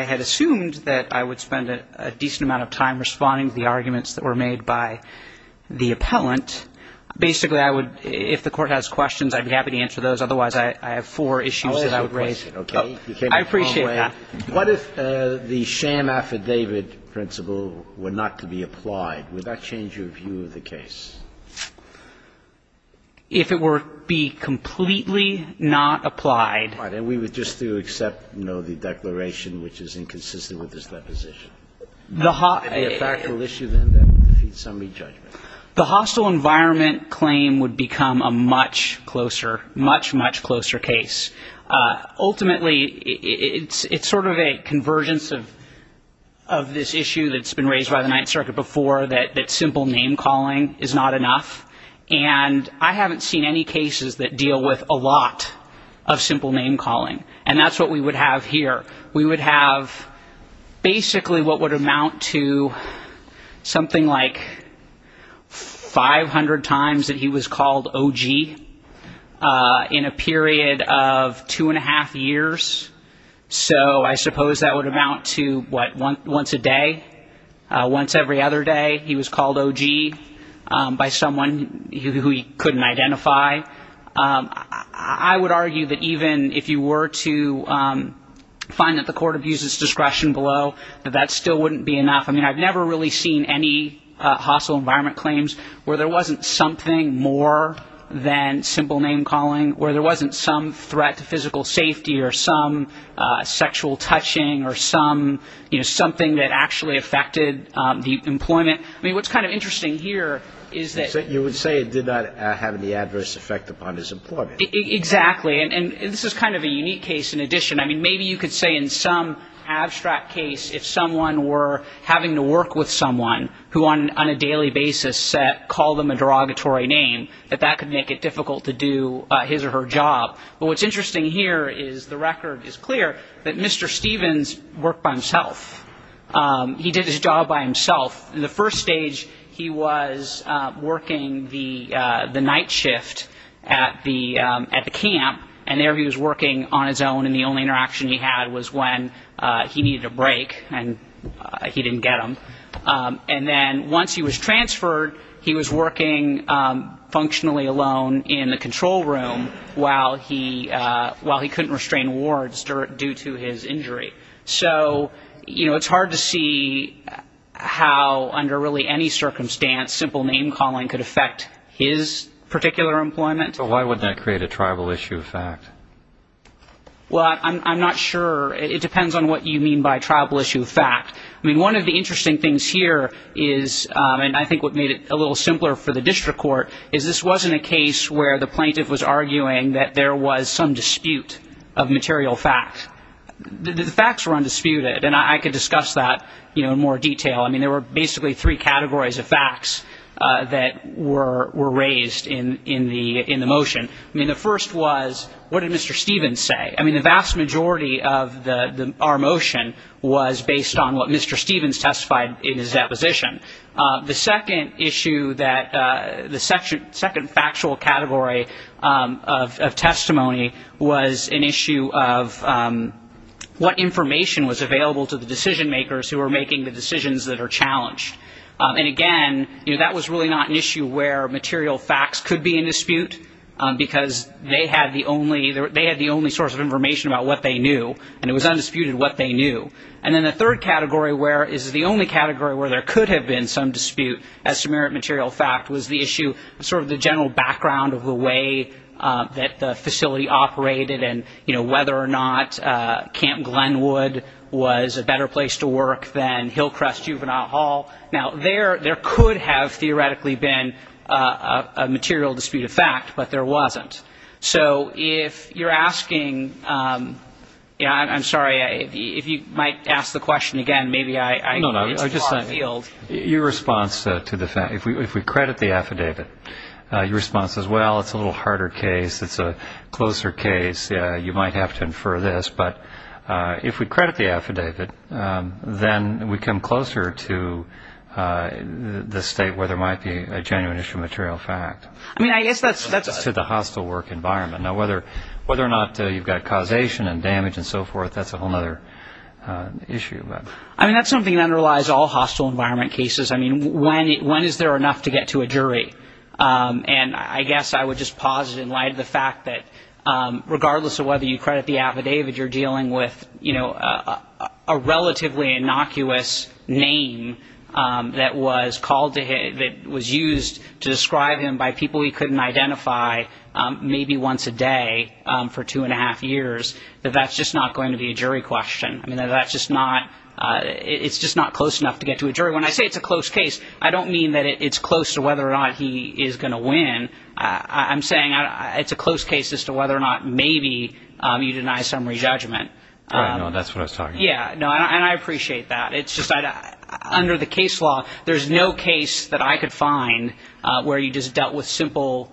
I had assumed that I would spend a decent amount of time responding to the arguments that were made by the appellant. Basically, I would, if the Court has questions, I'd be happy to answer those. Otherwise, I have four issues that I would raise. I appreciate that. What if the sham affidavit principle were not to be applied? Would that change your view of the case? If it were to be completely not applied. All right. And we would just do except, you know, the declaration, which is inconsistent with this deposition. Would that be a factual issue, then, that would defeat summary judgment? The hostile environment claim would become a much closer, much, much closer case. Ultimately, it's sort of a convergence of this issue that's been raised by the Ninth Circuit before, that simple name calling is not enough. And I haven't seen any cases that deal with a lot of simple name calling. And that's what we would have here. We would have basically what would amount to something like 500 times that he was called OG in a period of two and a half years. So I suppose that would amount to, what, once a day? Once every other day, he was called OG by someone who he couldn't identify. I would argue that even if you were to find that the court abuses discretion below, that that still wouldn't be enough. I mean, I've never really seen any hostile environment claims where there wasn't something more than simple name calling, where there wasn't some threat to physical safety or some sexual touching or some, you know, something that actually affected the employment. I mean, what's kind of interesting here is that. You would say it did not have any adverse effect upon his employment. Exactly. And this is kind of a unique case. In addition, I mean, maybe you could say in some abstract case, if someone were having to work with someone who on a daily basis said, call them a derogatory name, that that could make it difficult to do his or her job. But what's interesting here is the record is clear that Mr. Stevens worked by himself. He did his job by himself. In the first stage, he was working the night shift at the camp. And there he was working on his own. And the only interaction he had was when he needed a break and he didn't get them. And then once he was transferred, he was working functionally alone in the control room while he couldn't restrain wards due to his injury. So, you know, it's hard to see how under really any circumstance, simple name calling could affect his particular employment. So why would that create a tribal issue of fact? Well, I'm not sure. It depends on what you mean by tribal issue of fact. I mean, one of the interesting things here is, and I think what made it a little simpler for the district court, is this wasn't a case where the plaintiff was arguing that there was some dispute of material fact. The facts were undisputed. And I could discuss that in more detail. I mean, there were basically three categories of facts that were raised in the motion. I mean, the first was, what did Mr. Stevens say? I mean, the vast majority of our motion was based on what Mr. Stevens testified in his deposition. The second issue that, the second factual category of testimony was an issue of what information was available to the decision makers who were making the decisions that are challenged. And again, that was really not an issue where material facts could be in dispute, because they had the only source of information about what they knew, and it was undisputed what they knew. And then the third category where, is the only category where there could have been some dispute as to merit material fact, was the issue of sort of the general background of the way that the facility operated and, you know, whether or not Camp Glenwood was a better place to work than Hillcrest Juvenile Hall. Now, there could have theoretically been a material dispute of fact, but there wasn't. So if you're asking, yeah, I'm sorry, if you might ask the question again, maybe I, it's a far field. Your response to the fact, if we credit the affidavit, your response is, well, it's a little harder case. It's a closer case. You might have to infer this. But if we credit the affidavit, then we come closer to the state where there might be a genuine issue of material fact. I mean, I guess that's to the hostile work environment. Now, whether or not you've got causation and damage and so forth, that's a whole other issue. I mean, that's something that underlies all hostile environment cases. I mean, when is there enough to get to a jury? And I guess I would just pause it in light of the fact that regardless of whether you credit the affidavit, you're dealing with, you know, a relatively innocuous name that was called to him, that was used to describe him by people he couldn't identify maybe once a day for two and a half years. But that's just not going to be a jury question. I mean, that's just not it's just not close enough to get to a jury. When I say it's a close case, I don't mean that it's close to whether or not he is going to win. I'm saying it's a close case as to whether or not maybe you deny summary judgment. I know that's what I was talking. Yeah, no, and I appreciate that. It's just under the case law. There's no case that I could find where you just dealt with simple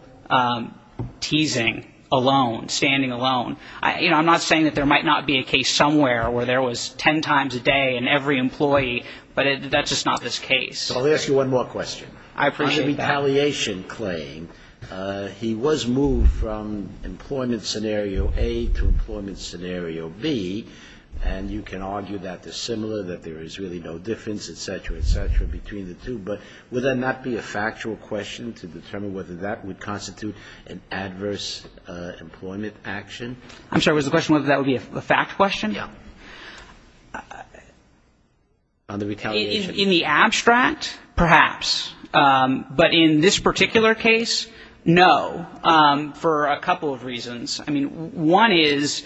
teasing alone, standing alone. I'm not saying that there might not be a case somewhere where there was 10 times a day in every employee. But that's just not this case. I'll ask you one more question. On the retaliation claim, he was moved from employment scenario A to employment scenario B. And you can argue that they're similar, that there is really no difference, et cetera, et cetera, between the two. But would that not be a factual question to determine whether that would constitute an adverse employment action? I'm sorry, was the question whether that would be a fact question? Yeah. On the retaliation. In the abstract, perhaps. But in this particular case, no, for a couple of reasons. I mean, one is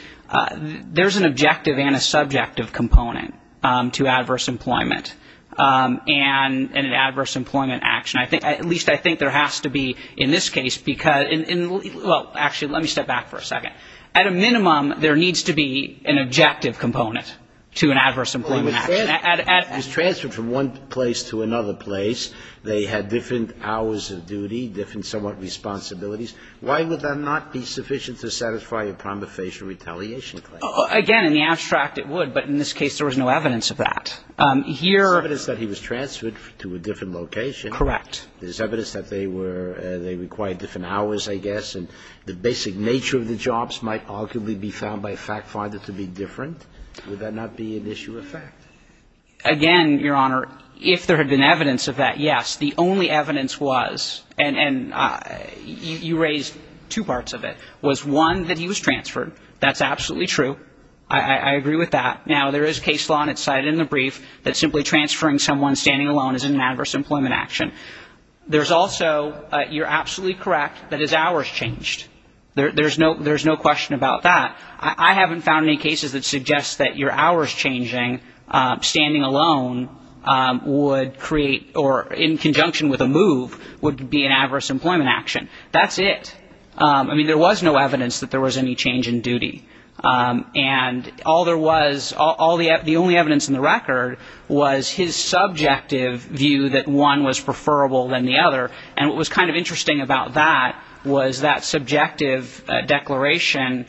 there's an objective and a subjective component to adverse employment and an adverse employment action. I think at least I think there has to be in this case, because in well, actually, let me step back for a second. At a minimum, there needs to be an objective component to an adverse employment. And I'm not going to go into the specifics of the objective component, but I'm going to say that there is an objective component to an adverse employment and an adverse employment action. If he was transferred from one place to another place, they had different hours of duty, different somewhat responsibilities, why would that not be sufficient to satisfy a prima facie retaliation claim? Again, in the abstract, it would, but in this case, there was no evidence of that. Here. There's evidence that he was transferred to a different location. Correct. There's evidence that they were, they required different hours, I guess, and the basic nature of the jobs might arguably be found by a fact finder to be different. Would that not be an issue of fact? Again, Your Honor, if there had been evidence of that, yes, the only evidence was, and you raised two parts of it, was one, that he was transferred. That's absolutely true. I agree with that. Now, there is case law, and it's cited in the brief, that simply transferring someone standing alone is an adverse employment action. There's also, you're absolutely correct, that his hours changed. There's no question about that. I haven't found any cases that suggest that your hours changing, standing alone, would create, or in conjunction with a move, would be an adverse employment action. That's it. I mean, there was no evidence that there was any change in duty, and all there was, the only evidence in the record, was his subjective view that one was preferable than the other, and what was kind of interesting about that was that subjective declaration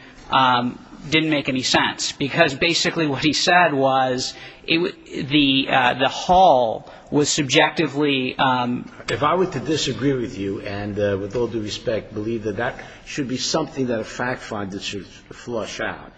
didn't make any sense, because basically what he said was, the haul was subjectively... If I were to disagree with you, and with all due respect, believe that that should be something that a fact finder should flush out,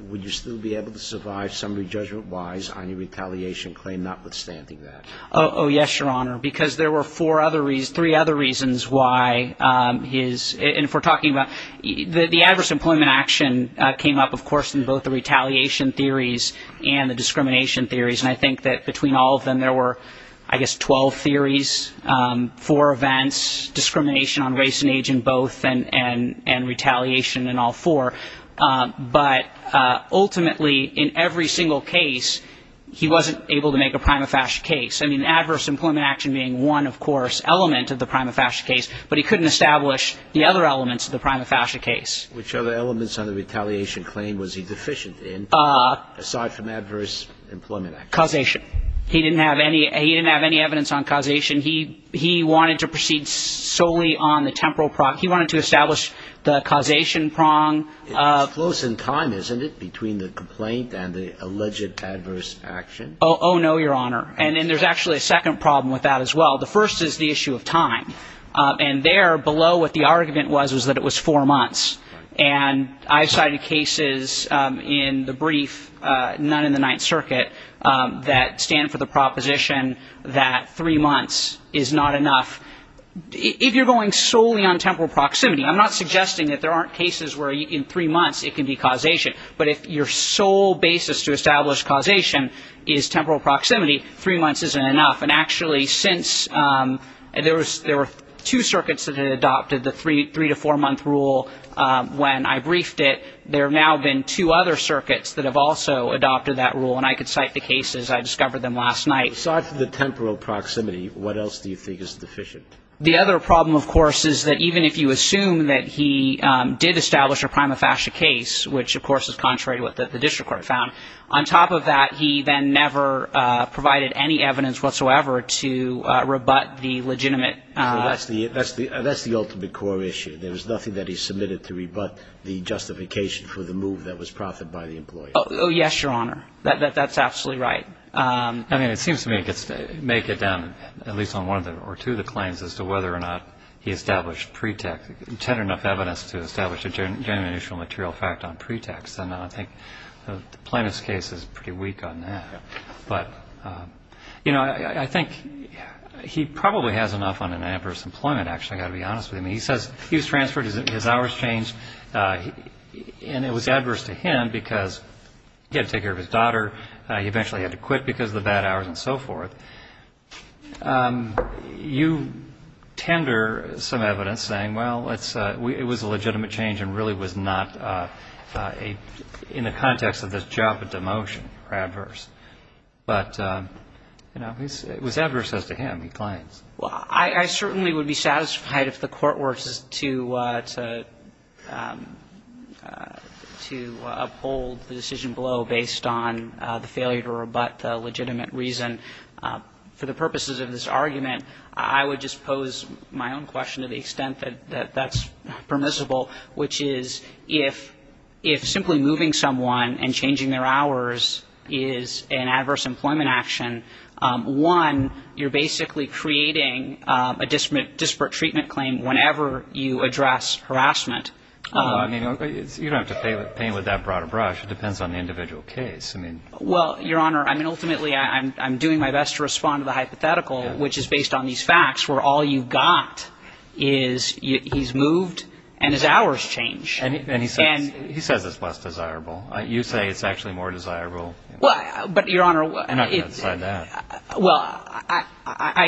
would you still be able to survive summary judgment-wise on your retaliation claim, notwithstanding that? Oh, yes, Your Honor, because there were three other reasons why his... And if we're talking about... The adverse employment action came up, of course, in both the retaliation theories and the discrimination theories, and I think that between all of them, there were, I guess, 12 theories, four events, discrimination on race and age in both, and retaliation in all four. But ultimately, in every single case, he wasn't able to make a prima facie case. I mean, adverse employment action being one, of course, element of the prima facie case, but he couldn't establish the other elements of the prima facie case. Which other elements on the retaliation claim was he deficient in, aside from adverse employment action? Causation. He didn't have any evidence on causation. He wanted to proceed solely on the temporal... He wanted to establish the causation prong of... It's close in time, isn't it, between the complaint and the alleged adverse action? Oh, no, Your Honor. And then there's actually a second problem with that as well. The first is the issue of time. And there, below what the argument was, was that it was four months. And I've cited cases in the brief, none in the Ninth Circuit, that stand for the proposition that three months is not enough. If you're going solely on temporal proximity, I'm not suggesting that there aren't cases where in three months it can be causation. But if your sole basis to establish causation is temporal proximity, three months isn't enough. And actually, since... There were two circuits that had adopted the three- to four-month rule when I briefed it. There have now been two other circuits that have also adopted that rule. And I could cite the cases. I discovered them last night. So aside from the temporal proximity, what else do you think is deficient? The other problem, of course, is that even if you assume that he did establish a prima facie case, which, of course, is contrary to what the district court found, on top of that, he then never provided any evidence whatsoever to rebut the legitimate... So that's the ultimate core issue. There was nothing that he submitted to rebut the justification for the move that was proffered by the employee. Oh, yes, Your Honor. That's absolutely right. I mean, it seems to me it makes it down, at least on one or two of the claims, as to whether or not he established pretext, tended enough evidence to establish a genuine initial material fact on pretext. And I think the plaintiff's case is pretty weak on that. But, you know, I think he probably has enough on an adverse employment, actually, I've got to be honest with you. I mean, he says he was transferred, his hours changed, and it was adverse to him because he had to take care of his daughter. He eventually had to quit because of the bad hours and so forth. You tender some evidence saying, well, it was a legitimate change and really was not in the context of this job of demotion or adverse. But, you know, it was adverse as to him, he claims. Well, I certainly would be satisfied if the court were to uphold the decision below based on the failure to rebut the legitimate reason. For the purposes of this argument, I would just pose my own question to the extent that that's permissible, which is if simply moving someone and changing their hours is an adverse employment action, one, you're basically creating a disparate treatment claim whenever you address harassment. I mean, you don't have to paint with that broad a brush. It depends on the individual case. Well, Your Honor, I mean, ultimately, I'm doing my best to respond to the hypothetical, which is based on these facts where all you've got is he's moved and his hours change. And he says it's less desirable. You say it's actually more desirable. Well, but, Your Honor, well, I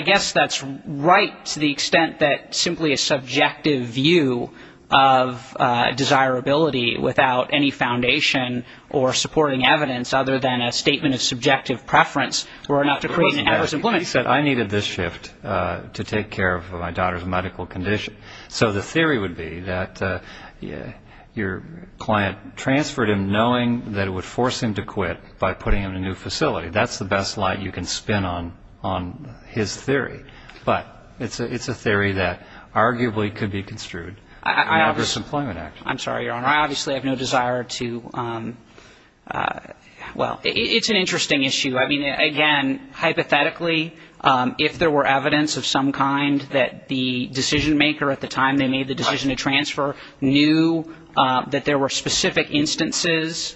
guess that's right to the extent that simply a subjective view of desirability without any foundation or supporting evidence other than a statement of subjective preference were enough to create an adverse employment. He said I needed this shift to take care of my daughter's medical condition. So the theory would be that your client transferred him knowing that it would force him to quit by putting him in a new facility. That's the best light you can spin on his theory. But it's a theory that arguably could be construed an adverse employment action. I'm sorry, Your Honor. I obviously have no desire to ‑‑ well, it's an interesting issue. I mean, again, hypothetically, if there were evidence of some kind that the decision maker at the time they made the decision to transfer knew that there were specific instances,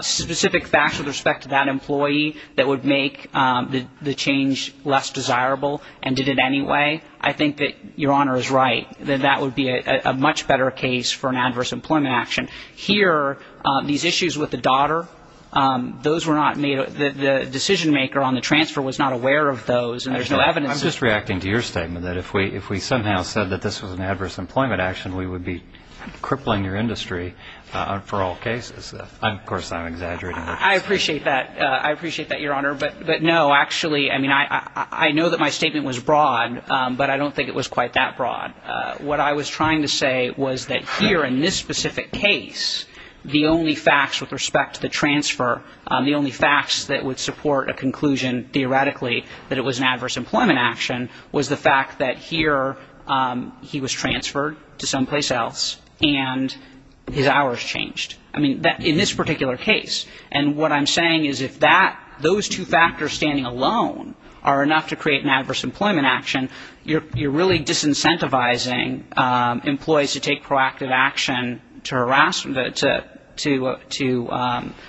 specific facts with respect to that employee that would make the change less desirable and did it anyway, I think that Your Honor is right, that that would be a much better case for an adverse employment action. Here, these issues with the daughter, those were not made ‑‑ the decision maker on the transfer was not aware of those and there's no evidence. I'm just reacting to your statement that if we somehow said that this was an adverse employment action, we would be crippling your industry for all cases. Of course, I'm exaggerating. I appreciate that. I appreciate that, Your Honor. But no, actually, I mean, I know that my statement was broad, but I don't think it was quite that broad. What I was trying to say was that here in this specific case, the only facts with respect to the transfer, the only facts that would support a conclusion theoretically that it was an adverse employment action was the fact that here he was transferred to someplace else and his hours changed. I mean, in this particular case. And what I'm saying is if those two factors standing alone are enough to create an adverse employment action, you're really disincentivizing employees to take proactive action to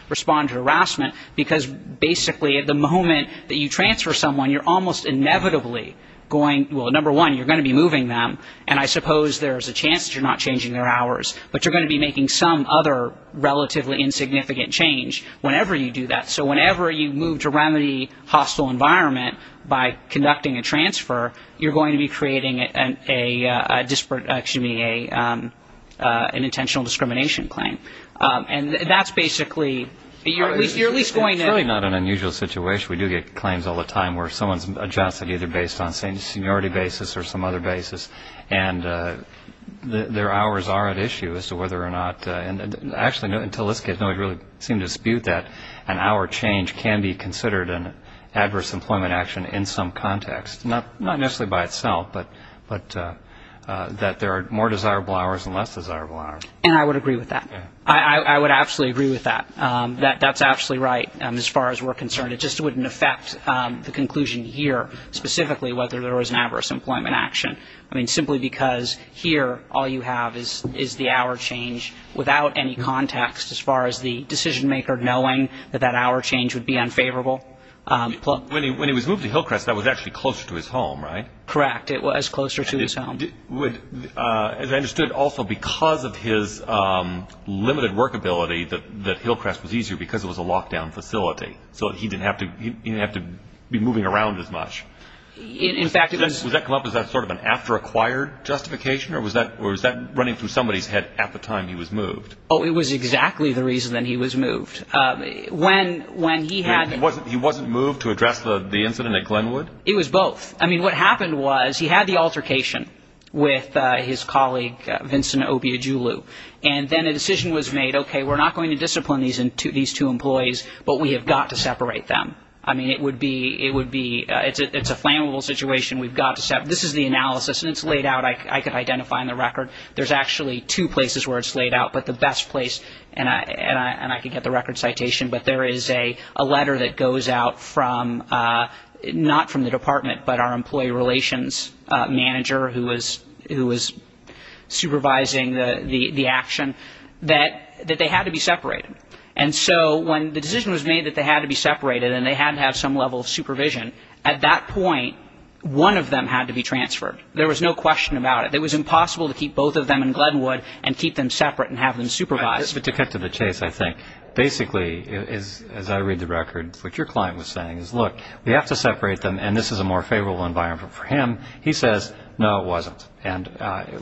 respond to harassment because basically at the moment that you transfer someone, you're almost inevitably going ‑‑ well, number one, you're going to be moving them and I suppose there's a chance that you're not changing their hours, but you're going to be making some other relatively insignificant change whenever you do that. So whenever you move to remedy hostile environment by conducting a transfer, you're going to be creating an intentional discrimination claim. And that's basically ‑‑ you're at least going to ‑‑ It's really not an unusual situation. We do get claims all the time where someone's adjusted either based on seniority basis or some other basis and their hours are at issue as to whether or not ‑‑ Actually, until this case, nobody really seemed to dispute that an hour change can be considered an adverse employment action in some context, not necessarily by itself, but that there are more desirable hours and less desirable hours. And I would agree with that. I would absolutely agree with that. That's absolutely right as far as we're concerned. It just wouldn't affect the conclusion here specifically whether there was an adverse employment action. I mean, simply because here all you have is the hour change without any context as far as the decision maker knowing that that hour change would be unfavorable. When he was moved to Hillcrest, that was actually closer to his home, right? Correct. It was closer to his home. As I understood, also because of his limited workability that Hillcrest was easier because it was a lockdown facility. So he didn't have to be moving around as much. Was that sort of an after acquired justification or was that running through somebody's head at the time he was moved? Oh, it was exactly the reason that he was moved. When he had ‑‑ He wasn't moved to address the incident at Glenwood? It was both. I mean, what happened was he had the altercation with his colleague, Vincent Obiagulu, and then a decision was made, okay, we're not going to discipline these two employees, but we have got to separate them. I mean, it would be ‑‑ it's a flammable situation. We've got to separate them. This is the analysis, and it's laid out. I can identify in the record. There's actually two places where it's laid out, but the best place, and I can get the record citation, but there is a letter that goes out from not from the department, but our employee relations manager who was supervising the action, that they had to be separated. And so when the decision was made that they had to be separated and they had to have some level of supervision, at that point, one of them had to be transferred. There was no question about it. It was impossible to keep both of them in Glenwood and keep them separate and have them supervised. To cut to the chase, I think, basically, as I read the record, what your client was saying is, look, we have to separate them, and this is a more favorable environment for him. He says, no, it wasn't. And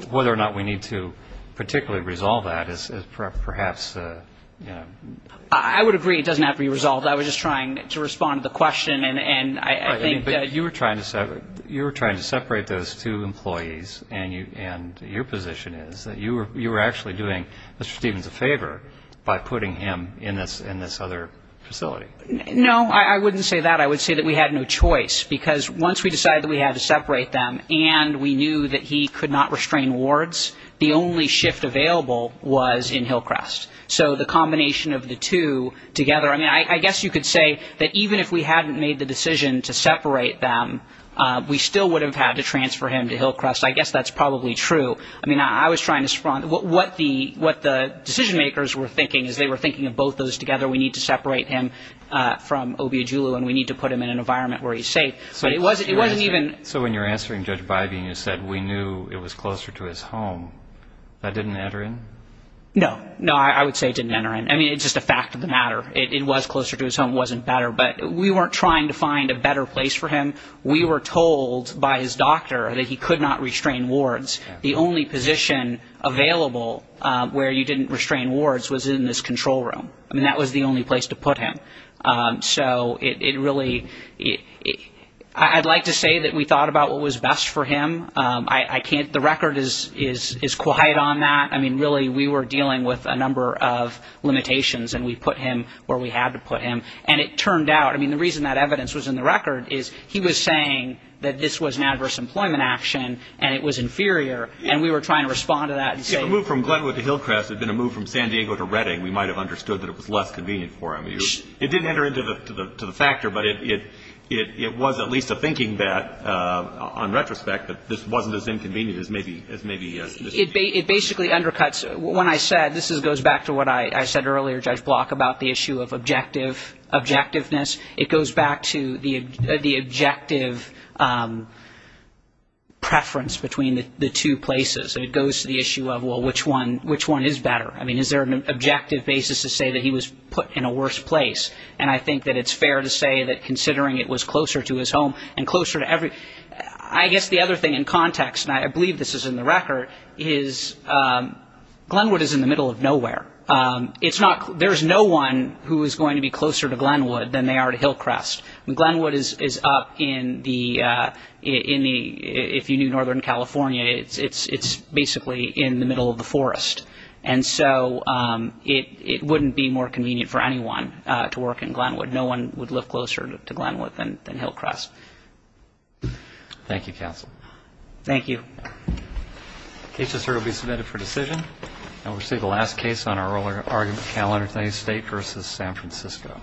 whether or not we need to particularly resolve that is perhaps, you know. I would agree it doesn't have to be resolved. I was just trying to respond to the question, and I think that you were trying to separate those two employees, and your position is that you were actually doing Mr. Stevens a favor by putting him in this other facility. No, I wouldn't say that. I would say that we had no choice, because once we decided that we had to separate them and we knew that he could not restrain wards, the only shift available was in Hillcrest. So the combination of the two together, I mean, I guess you could say that even if we hadn't made the decision to separate them, we still would have had to transfer him to Hillcrest. I guess that's probably true. I mean, I was trying to respond. What the decision-makers were thinking is they were thinking of both those together. We need to separate him from Obi Ajulu, and we need to put him in an environment where he's safe. So when you're answering Judge Bybee and you said we knew it was closer to his home, that didn't enter in? No. No, I would say it didn't enter in. I mean, it's just a fact of the matter. It was closer to his home. It wasn't better. But we weren't trying to find a better place for him. We were told by his doctor that he could not restrain wards. The only position available where you didn't restrain wards was in this control room. I mean, that was the only place to put him. So it really – I'd like to say that we thought about what was best for him. I can't – the record is quiet on that. I mean, really, we were dealing with a number of limitations, and we put him where we had to put him. And it turned out – I mean, the reason that evidence was in the record is he was saying that this was an adverse employment action, and it was inferior, and we were trying to respond to that and say – Yeah, a move from Glenwood to Hillcrest had been a move from San Diego to Redding. We might have understood that it was less convenient for him. It didn't enter into the factor, but it was at least a thinking that, on retrospect, that this wasn't as inconvenient as maybe – It basically undercuts – when I said – this goes back to what I said earlier, Judge Block, about the issue of objectiveness. It goes back to the objective preference between the two places. It goes to the issue of, well, which one is better? I mean, is there an objective basis to say that he was put in a worse place? And I think that it's fair to say that, considering it was closer to his home and closer to every – I guess the other thing in context, and I believe this is in the record, is Glenwood is in the middle of nowhere. It's not – there's no one who is going to be closer to Glenwood than they are to Hillcrest. Glenwood is up in the – if you knew northern California, it's basically in the middle of the forest. And so it wouldn't be more convenient for anyone to work in Glenwood. No one would live closer to Glenwood than Hillcrest. Thank you, counsel. Thank you. The case has now been submitted for decision. And we'll see the last case on our argument calendar today, State v. San Francisco.